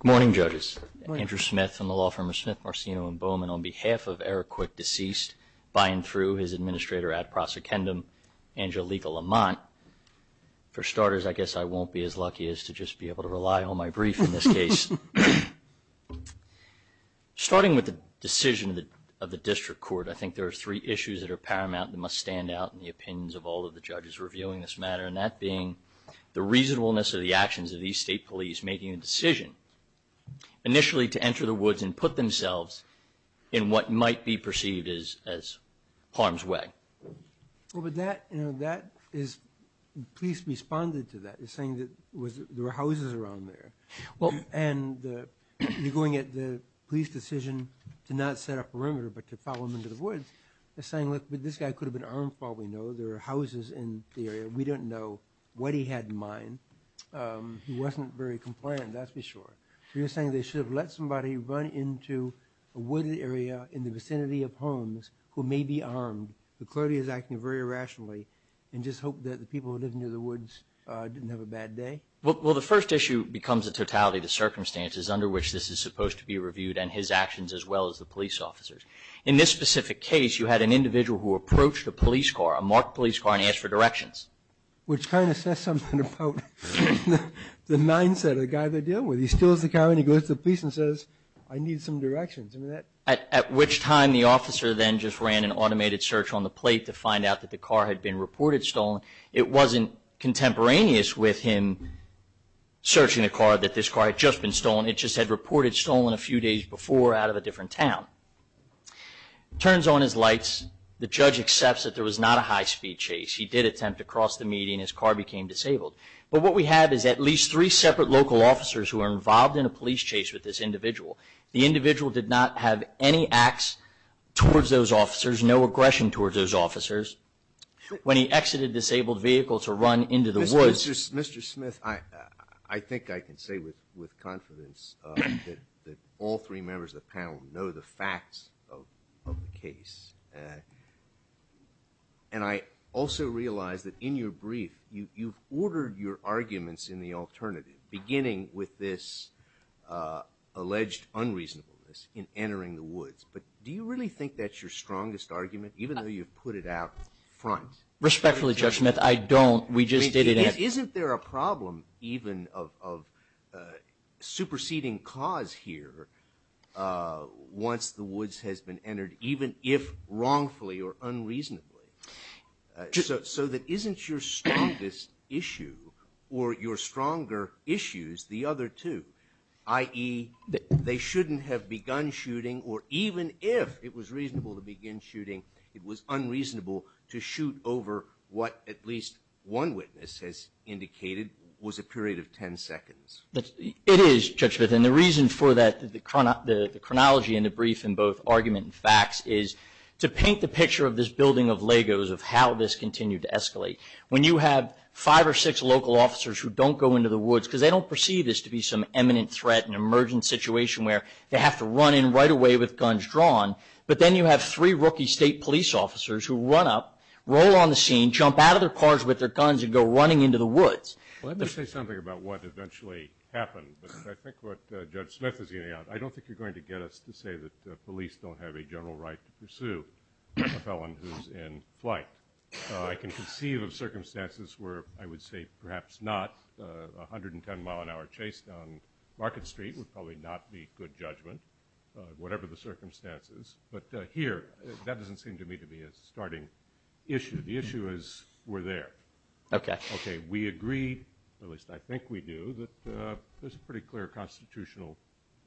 Good morning, judges. Andrew Smith from the law firm of Smith, Marcino, and Bowman on behalf of Eric Quick, deceased by and through his administrator at Prosecendum Angelika Lamont. For starters, I guess I won't be as lucky as to just be able to rely on my brief in this case. Starting with the decision of the district court, I think there are three issues that are paramount that must stand out in the opinions of all of the judges reviewing this matter, and that being the reasonableness of the actions of these state police making a decision initially to enter the woods and put themselves in what might be perceived as harm's way. Well, but that, you know, that is, police responded to that, saying that there were houses around there. Well, and you're going at the police decision to not set up a perimeter but to follow them into the woods. They're saying, look, this guy could have been armed. Well, we know there are houses in the area. We don't know what he had in mind. He wasn't very compliant, that's for sure. You're saying they should have let somebody run into a wooded area in the vicinity of homes who may be armed. The clerk is acting very irrationally and just hope that the people who live near the woods didn't have a bad day? Well, the first issue becomes the totality of the circumstances under which this is supposed to be reviewed and his actions as well as the police officers. In this specific case, you had an individual who approached a police car, a marked police car, and asked for directions. Which kind of says something about the mindset of the guy they're dealing with. He steals the car and he goes to the police and says, I need some directions. At which time the officer then just ran an automated search on the plate to find out that the car had been reported stolen. It wasn't contemporaneous with him searching the car that this car had just been stolen. It just had reported stolen a few days before out of a different town. Turns on his lights, the judge accepts that there was not a high speed chase. He did attempt to cross the median, his car became disabled. But what we have is at least three separate local officers who are involved in a police chase with this individual. The individual did not have any acts towards those officers, no aggression towards those officers. When he exited a disabled vehicle to run into the woods- That all three members of the panel know the facts of the case. And I also realize that in your brief, you've ordered your arguments in the alternative, beginning with this alleged unreasonableness in entering the woods. But do you really think that's your strongest argument, even though you've put it out front? Respectfully, Judge Smith, I don't. We just did it at- Isn't there a problem even of superseding cause here once the woods has been entered, even if wrongfully or unreasonably, so that isn't your strongest issue or your stronger issues the other two? I.e., they shouldn't have begun shooting or even if it was reasonable to begin shooting, it was unreasonable to shoot over what at least one witness has indicated was a period of 10 seconds. It is, Judge Smith, and the reason for that, the chronology in the brief in both argument and facts, is to paint the picture of this building of Legos of how this continued to escalate. When you have five or six local officers who don't go into the woods, because they don't perceive this to be some eminent threat, an emergent situation where they have to run in right away with guns drawn, but then you have three rookie state police officers who run up, roll on the scene, jump out of their cars with their guns and go running into the woods. Let me say something about what eventually happened, but I think what Judge Smith is getting at, I don't think you're going to get us to say that police don't have a general right to pursue a felon who's in flight. I can conceive of circumstances where I would say perhaps not. A 110-mile-an-hour chase down Market Street would probably not be good judgment, whatever the circumstances, but here, that doesn't seem to me to be a starting issue. The issue is we're there. Okay. Okay. We agree, at least I think we do, that there's a pretty clear constitutional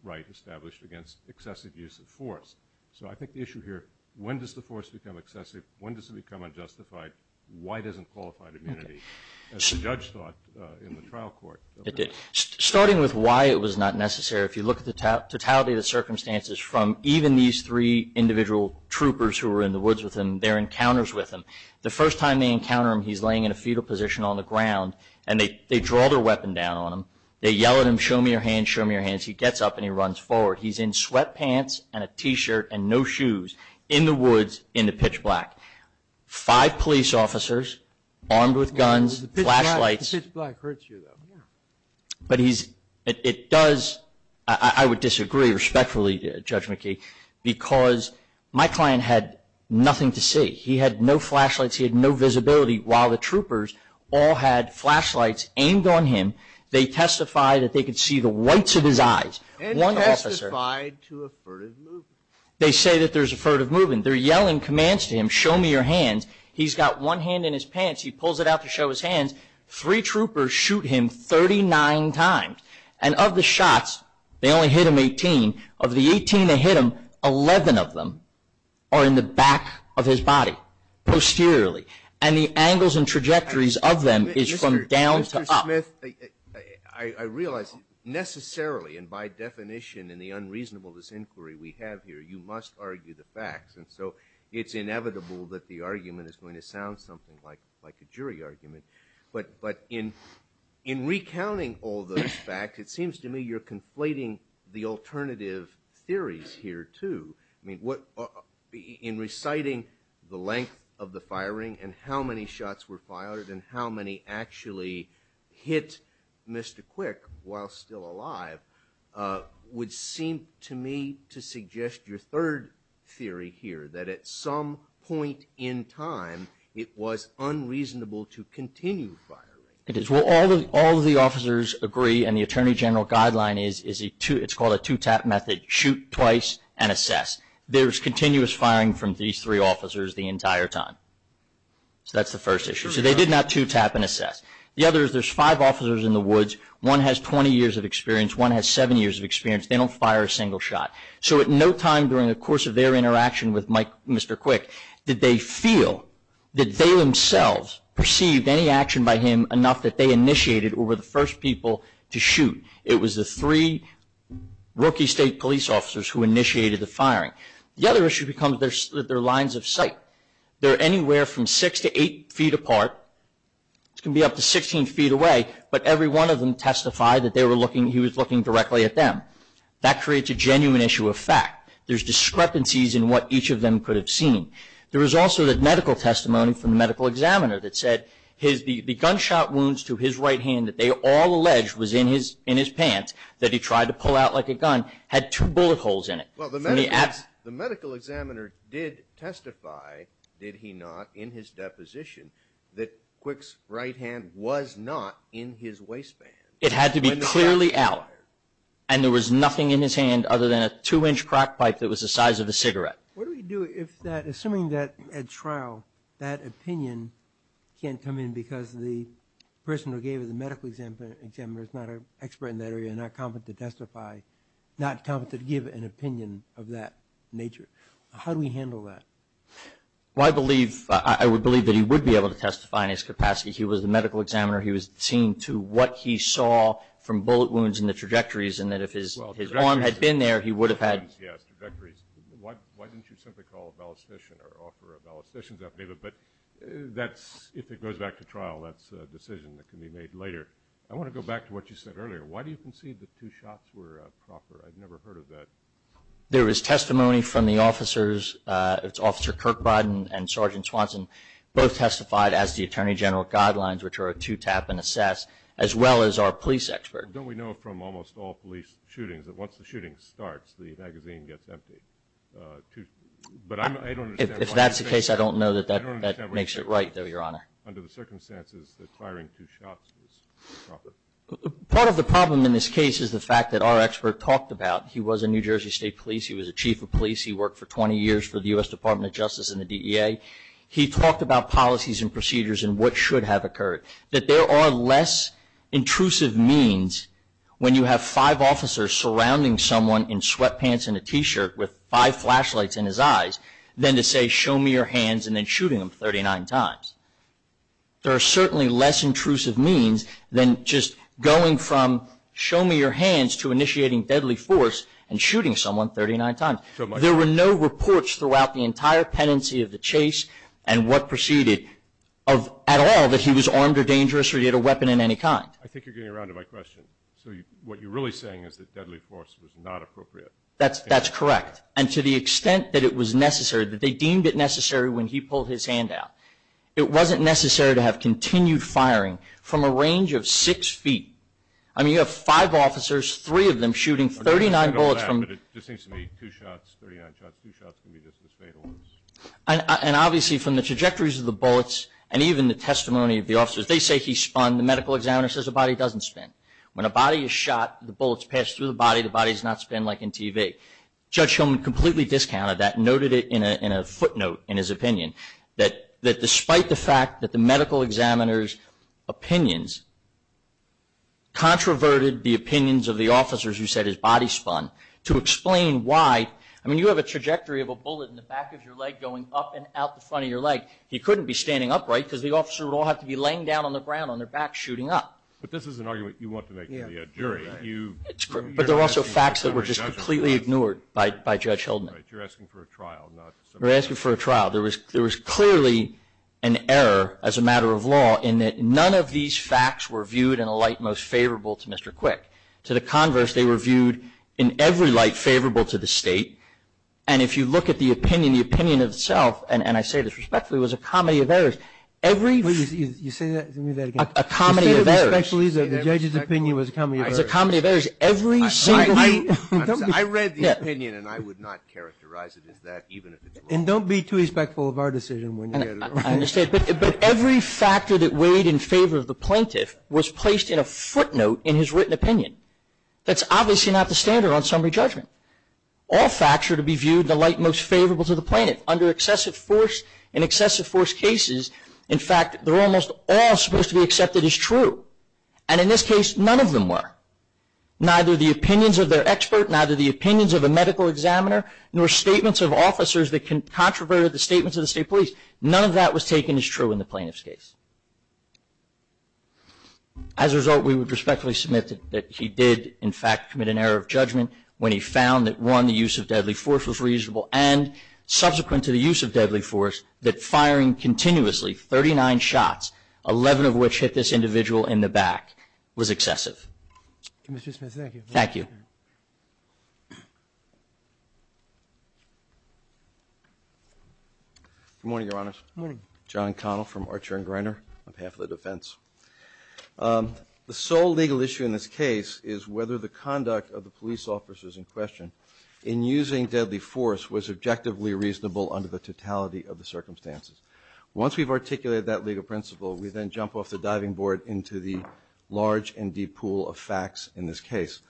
right established against excessive use of force. So I think the issue here, when does the force become excessive? When does it become unjustified? Why doesn't qualified immunity, as the judge thought in the trial court? It did. The totality of the circumstances from even these three individual troopers who were in the woods with him, their encounters with him. The first time they encounter him, he's laying in a fetal position on the ground and they draw their weapon down on him. They yell at him, show me your hands, show me your hands. He gets up and he runs forward. He's in sweatpants and a t-shirt and no shoes in the woods in the pitch black. Five police officers armed with guns, flashlights. The pitch black hurts you, though. But he's, it does, I would disagree respectfully, Judge McKee, because my client had nothing to see. He had no flashlights. He had no visibility. While the troopers all had flashlights aimed on him, they testified that they could see the whites of his eyes. And testified to a furtive movement. They say that there's a furtive movement. They're yelling commands to him, show me your hands. He's got one hand in his pants. He pulls it out to show his hands. Three troopers shoot him 39 times. And of the shots, they only hit him 18. Of the 18 that hit him, 11 of them are in the back of his body, posteriorly. And the angles and trajectories of them is from down to up. Mr. Smith, I realize, necessarily, and by definition in the unreasonable disinquiry we have here, you must argue the facts. And so it's inevitable that the argument is going to sound something like a jury argument. But in recounting all those facts, it seems to me you're conflating the alternative theories here, too. I mean, what, in reciting the length of the firing and how many shots were fired and how many actually hit Mr. Third theory here, that at some point in time, it was unreasonable to continue firing. It is. Well, all of the officers agree, and the Attorney General guideline is it's called a two-tap method. Shoot twice and assess. There's continuous firing from these three officers the entire time. So that's the first issue. So they did not two-tap and assess. The other is there's five officers in the woods. One has 20 years of experience. One has seven years of experience. They don't fire a single shot. So at no time during the course of their interaction with Mr. Quick did they feel that they themselves perceived any action by him enough that they initiated or were the first people to shoot. It was the three rookie state police officers who initiated the firing. The other issue becomes that they're lines of sight. They're anywhere from six to eight feet apart. It can be up to 16 feet away. But every one of them testified that he was looking directly at them. That creates a genuine issue of fact. There's discrepancies in what each of them could have seen. There was also the medical testimony from the medical examiner that said the gunshot wounds to his right hand that they all alleged was in his pants, that he tried to pull out like a gun, had two bullet holes in it. Well, the medical examiner did testify, did he not, in his deposition that Quick's right hand was not in his waistband. It had to be clearly out. And there was nothing in his hand other than a two-inch crack pipe that was the size of a cigarette. What do we do if that, assuming that at trial, that opinion can't come in because the person who gave it, the medical examiner is not an expert in that area, not competent to testify, not competent to give an opinion of that nature. How do we handle that? Well, I believe, I would believe that he would be able to testify in his capacity. He was the medical examiner. He was seen to what he saw from bullet wounds in the trajectories, and that if his arm had been there, he would have had. Yes, trajectories. Why didn't you simply call a ballistician or offer a ballistician's opinion? But that's, if it goes back to trial, that's a decision that can be made later. I want to go back to what you said earlier. Why do you concede that two shots were proper? I've never heard of that. There was testimony from the officers. It's Officer Kirkby and Sergeant Swanson, both testified as the attorney general guidelines, which are a two-tap and assess, as well as our police expert. Don't we know from almost all police shootings that once the shooting starts, the magazine gets empty? But I don't understand. If that's the case, I don't know that that makes it right, though, Your Honor. Under the circumstances, the firing two shots was proper. Part of the problem in this case is the fact that our expert talked about. He was a New Jersey State police. He was a chief of police. He worked for 20 years for the U.S. Department of Justice and the DEA. He talked about policies and procedures and what should have occurred, that there are less intrusive means when you have five officers surrounding someone in sweatpants and a T-shirt with five flashlights in his eyes than to say, show me your hands and then shooting them 39 times. There are certainly less intrusive means than just going from show me your hands to initiating deadly force and shooting someone 39 times. There were no reports throughout the entire pendency of the chase and what proceeded of at all that he was armed or dangerous or he had a weapon of any kind. I think you're getting around to my question. So what you're really saying is that deadly force was not appropriate. That's correct. And to the extent that it was necessary, that they deemed it necessary when he pulled his hand out, it wasn't necessary to have continued firing from a range of six feet. I mean, you have five officers, three of them shooting 39 bullets from. But it just seems to me two shots, 39 shots, two shots can be just as fatal as. And obviously from the trajectories of the bullets and even the testimony of the officers, they say he spun, the medical examiner says the body doesn't spin. When a body is shot, the bullets pass through the body, the body does not spin like in TV. Judge Hillman completely discounted that and noted it in a footnote in his opinion that despite the fact that the medical examiner's opinions controverted the opinions of the officers who said his body spun, to explain why, I mean, you have a trajectory of a bullet in the back of your leg going up and out the front of your leg. He couldn't be standing upright because the officer would all have to be laying down on the ground on their back shooting up. But this is an argument you want to make to the jury. But there are also facts that were just completely ignored by Judge Hillman. You're asking for a trial, not. We're asking for a trial. There was clearly an error as a matter of law in that none of these facts were viewed in a light most favorable to Mr. Quick. To the converse, they were viewed in every light favorable to the State. And if you look at the opinion, the opinion itself, and I say this respectfully, was a comedy of errors. Every. You say that again. A comedy of errors. Respectfully, the judge's opinion was a comedy of errors. It's a comedy of errors. Every single. I read the opinion and I would not characterize it as that even if it's wrong. And don't be too respectful of our decision when you get it wrong. I understand. But every factor that weighed in favor of the plaintiff was placed in a footnote in his written opinion. That's obviously not the standard on summary judgment. All facts are to be viewed in the light most favorable to the plaintiff. Under excessive force, in excessive force cases, in fact, they're almost all supposed to be accepted as true. And in this case, none of them were. Neither the opinions of their expert, neither the opinions of a medical examiner, nor statements of officers that can controvert the statements of the State Police. None of that was taken as true in the plaintiff's case. As a result, we would respectfully submit that he did, in fact, commit an error of judgment when he found that one, the use of deadly force was reasonable and subsequent to the use of deadly force, that firing continuously 39 shots, 11 of which hit this individual in the back, was excessive. Mr. Smith, thank you. Thank you. Good morning, Your Honors. Good morning. John Connell from Archer and Greiner on behalf of the defense. The sole legal issue in this case is whether the conduct of the police officers in question in using deadly force was objectively reasonable under the totality of the circumstances. Once we've articulated that legal principle, we then jump off the diving board into the large and deep pool of facts in this case.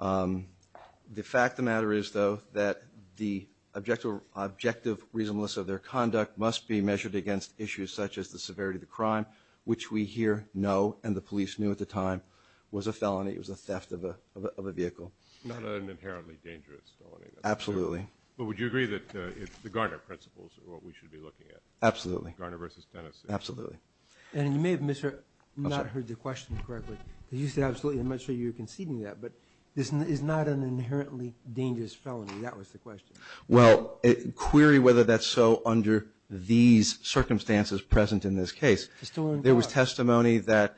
The fact of the matter is, though, that the objective reasonableness of their conduct must be measured against issues such as the severity of the crime, which we here know, and the police knew at the time, was a felony. It was a theft of a vehicle. Not an inherently dangerous felony. Absolutely. But would you agree that it's the Garner principles that we should be looking at? Absolutely. Garner versus Tennessee. Absolutely. And you may have not heard the question correctly. You said absolutely. I'm not sure you were conceding that. But it's not an inherently dangerous felony. That was the question. Well, query whether that's so under these circumstances present in this case. There was testimony that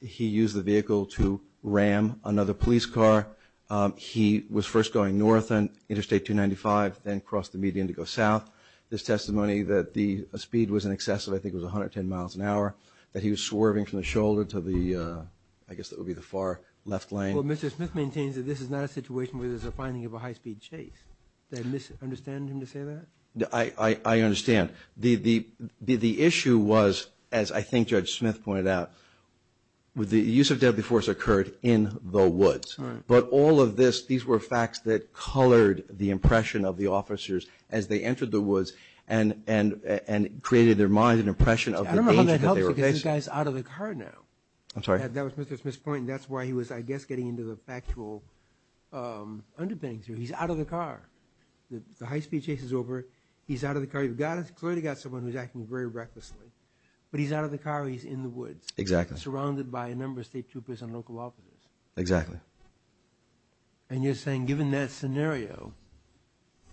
he used the vehicle to ram another police car. He was first going north on Interstate 295, then crossed the median to go south. There's testimony that the speed was in excess of, I think it was 110 miles an hour, that he was swerving from the shoulder to the, I guess that would be the far left lane. Well, Mr. Smith maintains that this is not a situation where there's a finding of a high-speed chase. Do I misunderstand him to say that? I understand. The issue was, as I think Judge Smith pointed out, the use of deadly force occurred in the woods. But all of this, these were facts that colored the impression of the officers as they entered the woods and created in their minds an impression of the danger that they were facing. I don't know how that helps to get these guys out of the car now. I'm sorry? That was Mr. Smith's point. That's why he was, I guess, getting into the factual underpinnings here. He's out of the car. The high-speed chase is over. He's out of the car. You've clearly got someone who's acting very recklessly. But he's out of the car. He's in the woods. Exactly. Surrounded by a number of state troopers and local officers. Exactly. And you're saying, given that scenario,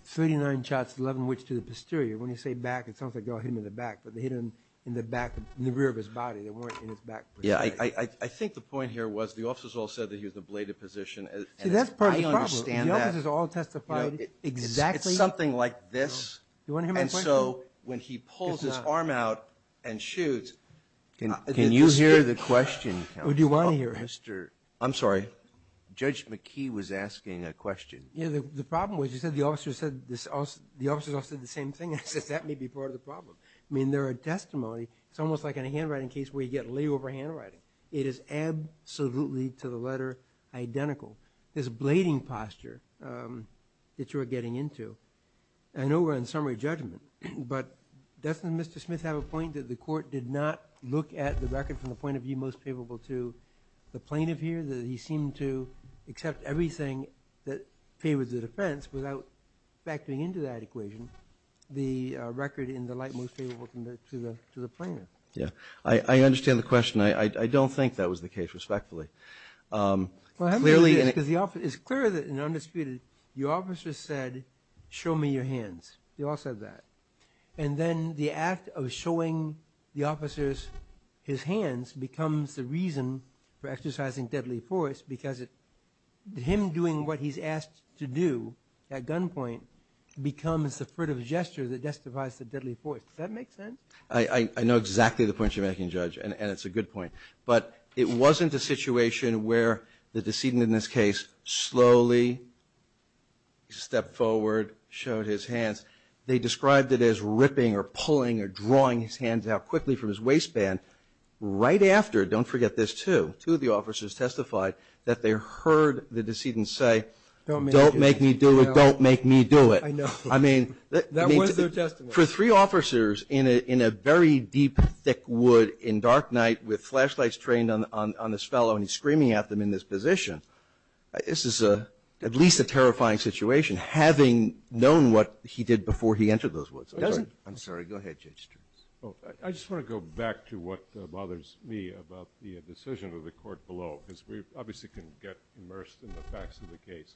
39 shots, 11 which to the posterior. When you say back, it sounds like they all hit him in the back. But they hit him in the back, in the rear of his body. They weren't in his back. Yeah, I think the point here was the officers all said that he was in a bladed position. See, that's part of the problem. The officers all testified exactly. It's something like this. You want to hear my point? And so when he pulls his arm out and shoots. Can you hear the question, counsel? What do you want to hear? Mr. I'm sorry. Judge McKee was asking a question. Yeah, the problem was you said the officers all said the same thing. I said that may be part of the problem. I mean, there are testimony. It's almost like in a handwriting case where you get layover handwriting. It is absolutely, to the letter, identical. This blading posture that you are getting into. I know we're in summary judgment. But doesn't Mr. Smith have a point that the court did not look at the record from the point of view most favorable to the plaintiff here? That he seemed to accept everything that favored the defense without factoring into that equation. The record in the light most favorable to the plaintiff. Yeah. I understand the question. I don't think that was the case, respectfully. Clearly, and it's clear that in undisputed, your officer said, show me your hands. They all said that. And then the act of showing the officers his hands becomes the reason for exercising deadly force because him doing what he's asked to do at gunpoint becomes the fruitive gesture that justifies the deadly force. Does that make sense? I know exactly the point you're making, Judge, and it's a good point. But it wasn't a situation where the decedent in this case slowly stepped forward, showed his hands. They described it as ripping or pulling or drawing his hands out quickly from his waistband. Right after, don't forget this too, two of the officers testified that they heard the decedent say, don't make me do it, don't make me do it. I know. I mean, that was their testimony. For three officers in a very deep, thick wood in dark night with flashlights trained on this fellow and he's screaming at them in this position, this is at least a terrifying situation, having known what he did before he entered those woods. It doesn't. I'm sorry. Go ahead, Judge Stearns. I just want to go back to what bothers me about the decision of the court below, because we obviously can get immersed in the facts of the case.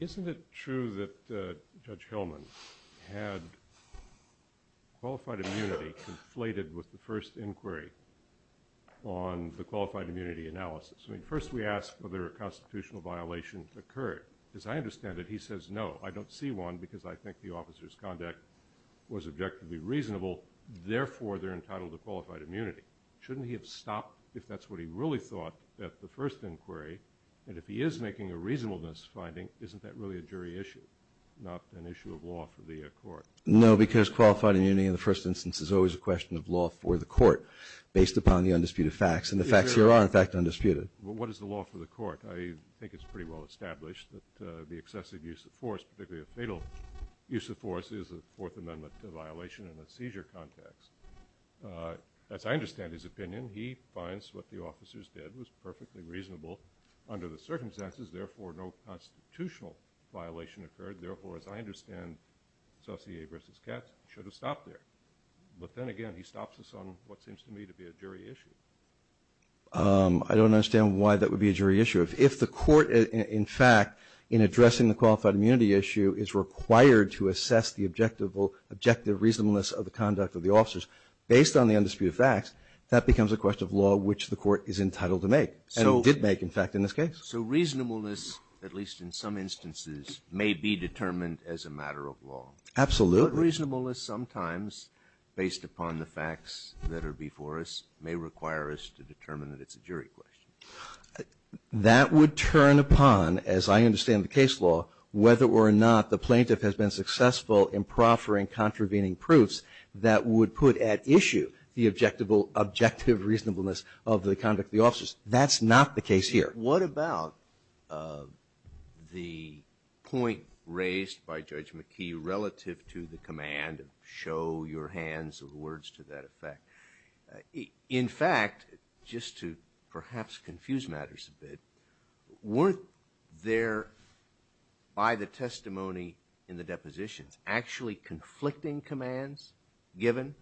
Isn't it true that Judge Hillman had qualified immunity conflated with the first inquiry on the qualified immunity analysis? I mean, first we asked whether a constitutional violation occurred. As I understand it, he says, no, I don't see one because I think the officer's conduct was objectively reasonable. Therefore, they're entitled to qualified immunity. Shouldn't he have stopped if that's what he really thought at the first inquiry? And if he is making a reasonableness finding, isn't that really a jury issue, not an issue of law for the court? No, because qualified immunity in the first instance is always a question of law for the court based upon the undisputed facts and the facts here are in fact undisputed. What is the law for the court? I think it's pretty well established that the excessive use of force, particularly a fatal use of force, is a Fourth Amendment violation in a seizure context. As I understand his opinion, he finds what the officers did was perfectly reasonable under the circumstances. Therefore, no constitutional violation occurred. Therefore, as I understand, Saussure v. Katz should have stopped there. But then again, he stops us on what seems to me to be a jury issue. I don't understand why that would be a jury issue. If the court, in fact, in addressing the qualified immunity issue is required to assess the objective reasonableness of the conduct of the officers based on the undisputed facts, that becomes a question of law which the court is entitled to make and did make, in fact, in this case. So reasonableness, at least in some instances, may be determined as a matter of law. Absolutely. But reasonableness sometimes, based upon the facts that are before us, may require us to determine that it's a jury question. That would turn upon, as I understand the case law, whether or not the plaintiff has been successful in proffering contravening proofs that would put at issue the objective reasonableness of the conduct of the officers. That's not the case here. What about the point raised by Judge McKee relative to the command, show your hands or words to that effect? In fact, just to perhaps confuse matters a bit, weren't there, by the testimony in the depositions, actually conflicting commands given?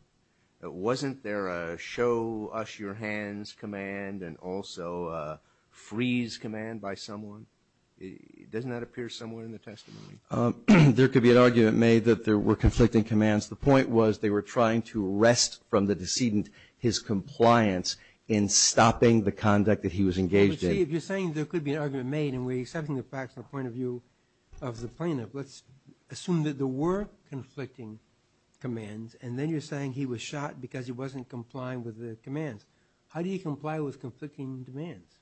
Wasn't there a show us your hands command and also a freeze command by someone? Doesn't that appear somewhere in the testimony? There could be an argument made that there were conflicting commands. The point was they were trying to wrest from the decedent his compliance in stopping the conduct that he was engaged in. But see, if you're saying there could be an argument made and we're accepting the point of view of the plaintiff, let's assume that there were conflicting commands and then you're saying he was shot because he wasn't complying with the commands. How do you comply with conflicting demands,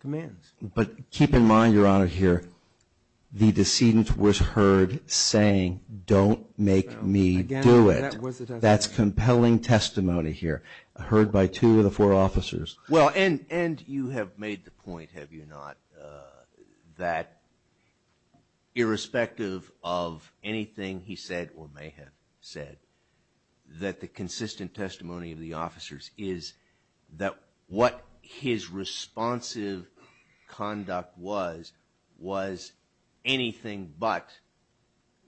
commands? But keep in mind, Your Honor, here, the decedent was heard saying, don't make me do it. Again, that was the testimony. That's compelling testimony here, heard by two of the four officers. Well, and you have made the point, have you not, that irrespective of anything he said or may have said, that the consistent testimony of the officers is that what his responsive conduct was was anything but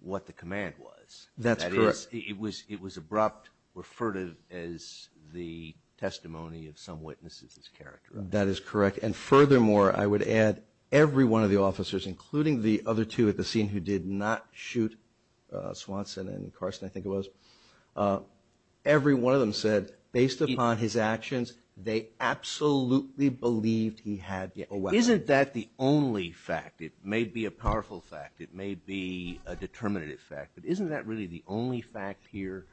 what the command was. That's correct. It was abrupt, referred to as the testimony of some witnesses' character. That is correct. And furthermore, I would add, every one of the officers, including the other two at the scene who did not shoot Swanson and Carson, I think it was, every one of them said, based upon his actions, they absolutely believed he had a weapon. Isn't that the only fact? It may be a powerful fact. It may be a determinative fact. But isn't that really the only fact here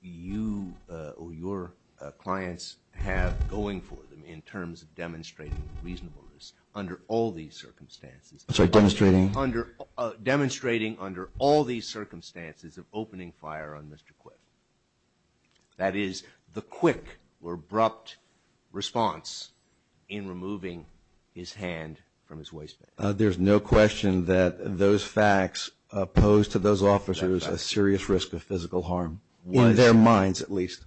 you or your clients have going for them in terms of demonstrating reasonableness under all these circumstances? I'm sorry, demonstrating? Demonstrating under all these circumstances of opening fire on Mr. Quiff. That is, the quick or abrupt response in removing his hand from his waistband. There's no question that those facts pose to those officers a serious risk of physical harm, in their minds at least.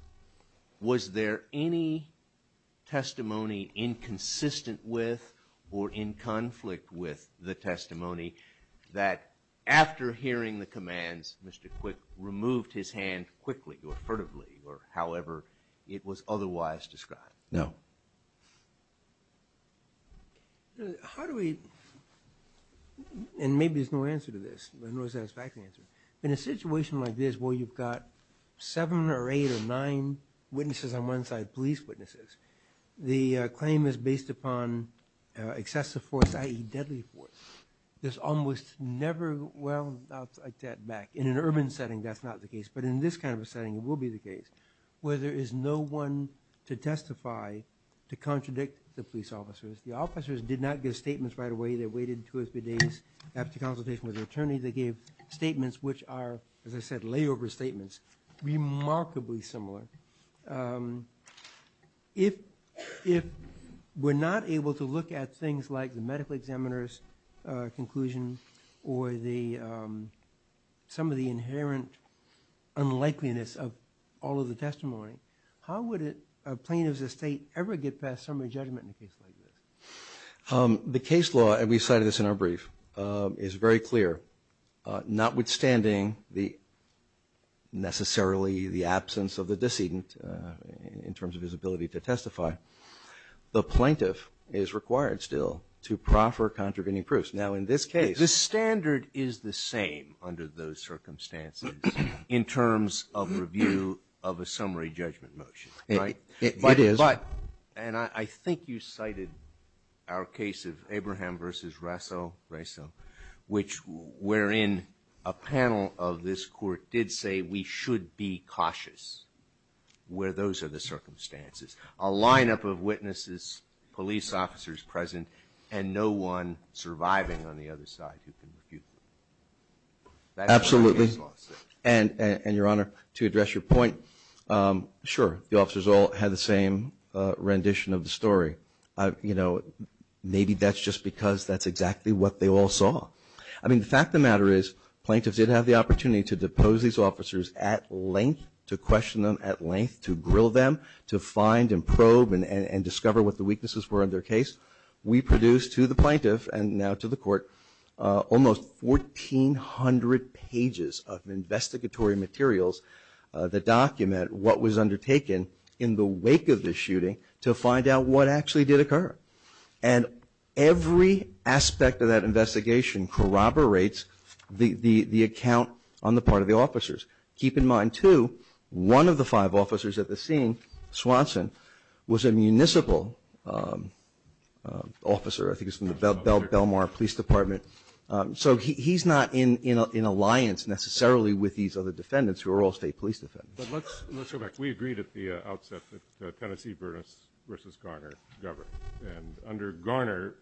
Was there any testimony inconsistent with or in conflict with the testimony that after hearing the commands, Mr. Quiff removed his hand quickly or furtively or however it was otherwise described? No. No. How do we, and maybe there's no answer to this, no satisfactory answer. In a situation like this where you've got seven or eight or nine witnesses on one side, police witnesses, the claim is based upon excessive force, i.e. deadly force. There's almost never, well, I'll take that back. In an urban setting, that's not the case. Where there is no one to testify to contradict the police officers. The officers did not give statements right away. They waited two or three days after consultation with an attorney. They gave statements which are, as I said, layover statements, remarkably similar. If we're not able to look at things like the medical examiner's conclusion or some of the inherent unlikeliness of all of the testimony, how would a plaintiff's estate ever get past summary judgment in a case like this? The case law, and we cited this in our brief, is very clear. Notwithstanding necessarily the absence of the decedent in terms of his ability to testify, the plaintiff is required still to proffer contravening proofs. Now, in this case, the standard is the same under those circumstances in terms of review of a summary judgment motion, right? It is. But, and I think you cited our case of Abraham v. Rasso, which wherein a panel of this court did say we should be cautious where those are the circumstances. A lineup of witnesses, police officers present, and no one surviving on the other side who can refute them. Absolutely. And, Your Honor, to address your point, sure, the officers all had the same rendition of the story. You know, maybe that's just because that's exactly what they all saw. I mean, the fact of the matter is plaintiffs did have the opportunity to depose these officers at length, to question them at length, to grill them, to find and probe and discover what the weaknesses were in their case. We produced to the plaintiff and now to the court almost 1,400 pages of investigatory materials that document what was undertaken in the wake of the shooting to find out what actually did occur. And every aspect of that investigation corroborates the account on the part of the officers. Keep in mind, too, one of the five officers at the scene, Swanson, was a municipal officer. I think he was from the Belmar Police Department. So he's not in alliance necessarily with these other defendants who are all state police defendants. But let's go back. We agreed at the outset that Tennessee versus Garner governed. And under Garner,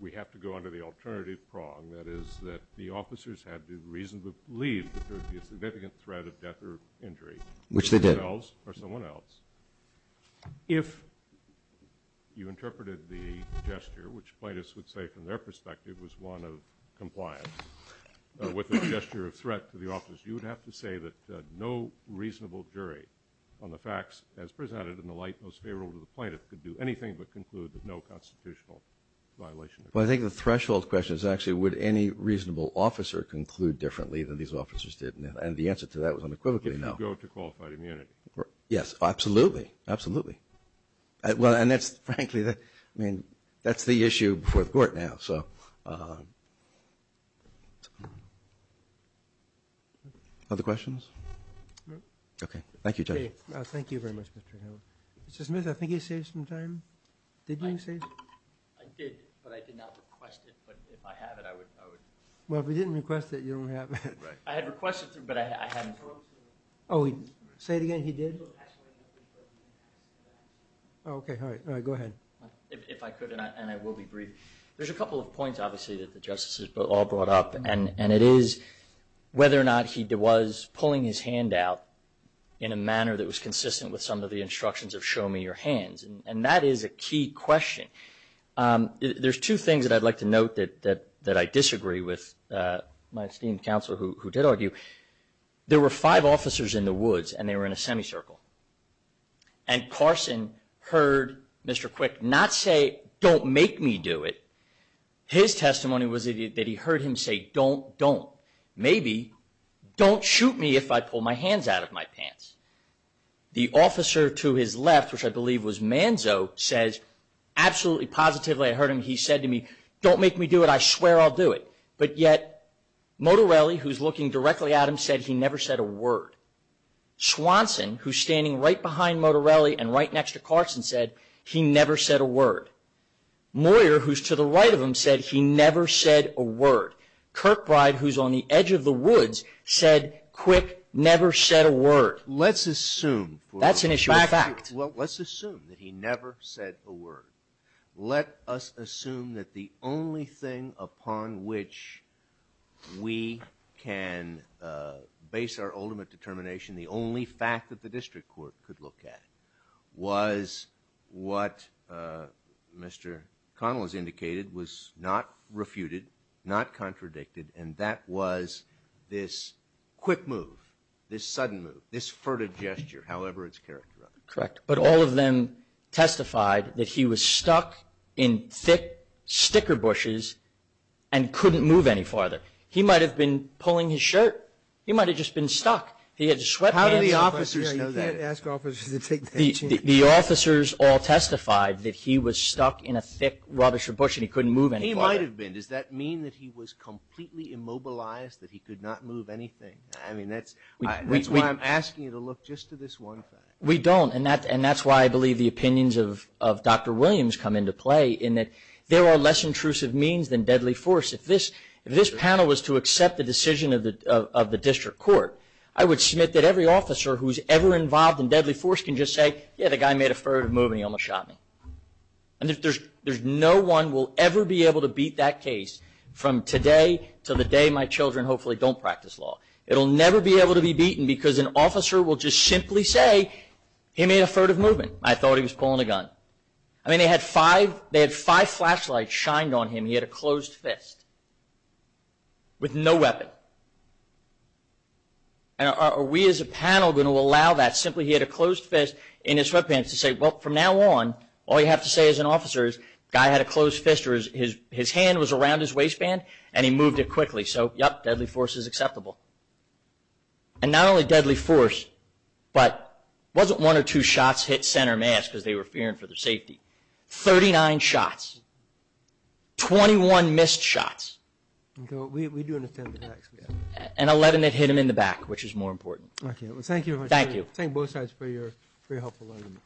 we have to go under the alternative prong, that is that the officers had to reasonably believe that there would be a significant threat of death or injury. Which they did. Themselves or someone else. If you interpreted the gesture, which plaintiffs would say from their perspective, was one of compliance with a gesture of threat to the officers, you would have to say that no reasonable jury on the facts as presented in the light most favorable to the plaintiff could do anything but conclude that no constitutional violation occurred. Well, I think the threshold question is actually would any reasonable officer conclude differently than these officers did? And the answer to that was unequivocally no. If you go to qualified immunity. Yes, absolutely. Absolutely. Well, and that's frankly, I mean, that's the issue before the court now. So other questions? No. Okay. Thank you, Judge. Thank you very much, Mr. Hill. Mr. Smith, I think you saved some time. Did you save some time? I did, but I did not request it. But if I have it, I would. Well, if you didn't request it, you don't have it. I had requested it, but I hadn't. Oh, say it again. He did? Okay, all right. Go ahead. If I could, and I will be brief. There's a couple of points, obviously, that the justices all brought up. And it is whether or not he was pulling his hand out in a manner that was consistent with some of the instructions of show me your hands. And that is a key question. There's two things that I'd like to note that I disagree with my esteemed counselor, who did argue. There were five officers in the woods, and they were in a semicircle. And Carson heard Mr. Quick not say, don't make me do it. His testimony was that he heard him say, don't, don't. Maybe, don't shoot me if I pull my hands out of my pants. The officer to his left, which I believe was Manzo, says absolutely positively I heard him. He said to me, don't make me do it. I swear I'll do it. But yet, Motorelli, who's looking directly at him, said he never said a word. Swanson, who's standing right behind Motorelli and right next to Carson, said he never said a word. Moyer, who's to the right of him, said he never said a word. Kirkbride, who's on the edge of the woods, said Quick never said a word. But let's assume for a moment. That's an issue of fact. Well, let's assume that he never said a word. Let us assume that the only thing upon which we can base our ultimate determination, the only fact that the district court could look at, was what Mr. Connell has indicated was not refuted, not contradicted, and that was this quick move, this sudden move, this furtive gesture, however it's characterized. Correct. But all of them testified that he was stuck in thick sticker bushes and couldn't move any farther. He might have been pulling his shirt. He might have just been stuck. How do the officers know that? You can't ask officers to take that chance. The officers all testified that he was stuck in a thick, rubbishy bush and he couldn't move any farther. He might have been. Does that mean that he was completely immobilized, that he could not move anything? That's why I'm asking you to look just to this one fact. We don't, and that's why I believe the opinions of Dr. Williams come into play, in that there are less intrusive means than deadly force. If this panel was to accept the decision of the district court, I would submit that every officer who's ever involved in deadly force can just say, yeah, the guy made a furtive move and he almost shot me. And there's no one will ever be able to beat that case from today to the day my children hopefully don't practice law. It'll never be able to be beaten because an officer will just simply say, he made a furtive movement, I thought he was pulling a gun. I mean, they had five flashlights shined on him. He had a closed fist with no weapon. And are we as a panel going to allow that? in his sweatpants to say, well, from now on, all you have to say as an officer is the guy had a closed fist or his hand was around his waistband and he moved it quickly. So, yep, deadly force is acceptable. And not only deadly force, but it wasn't one or two shots hit center mass because they were fearing for their safety. Thirty-nine shots. Twenty-one missed shots. And eleven that hit him in the back, which is more important. Thank you very much. Thank you. Thank both sides for your helpful argument.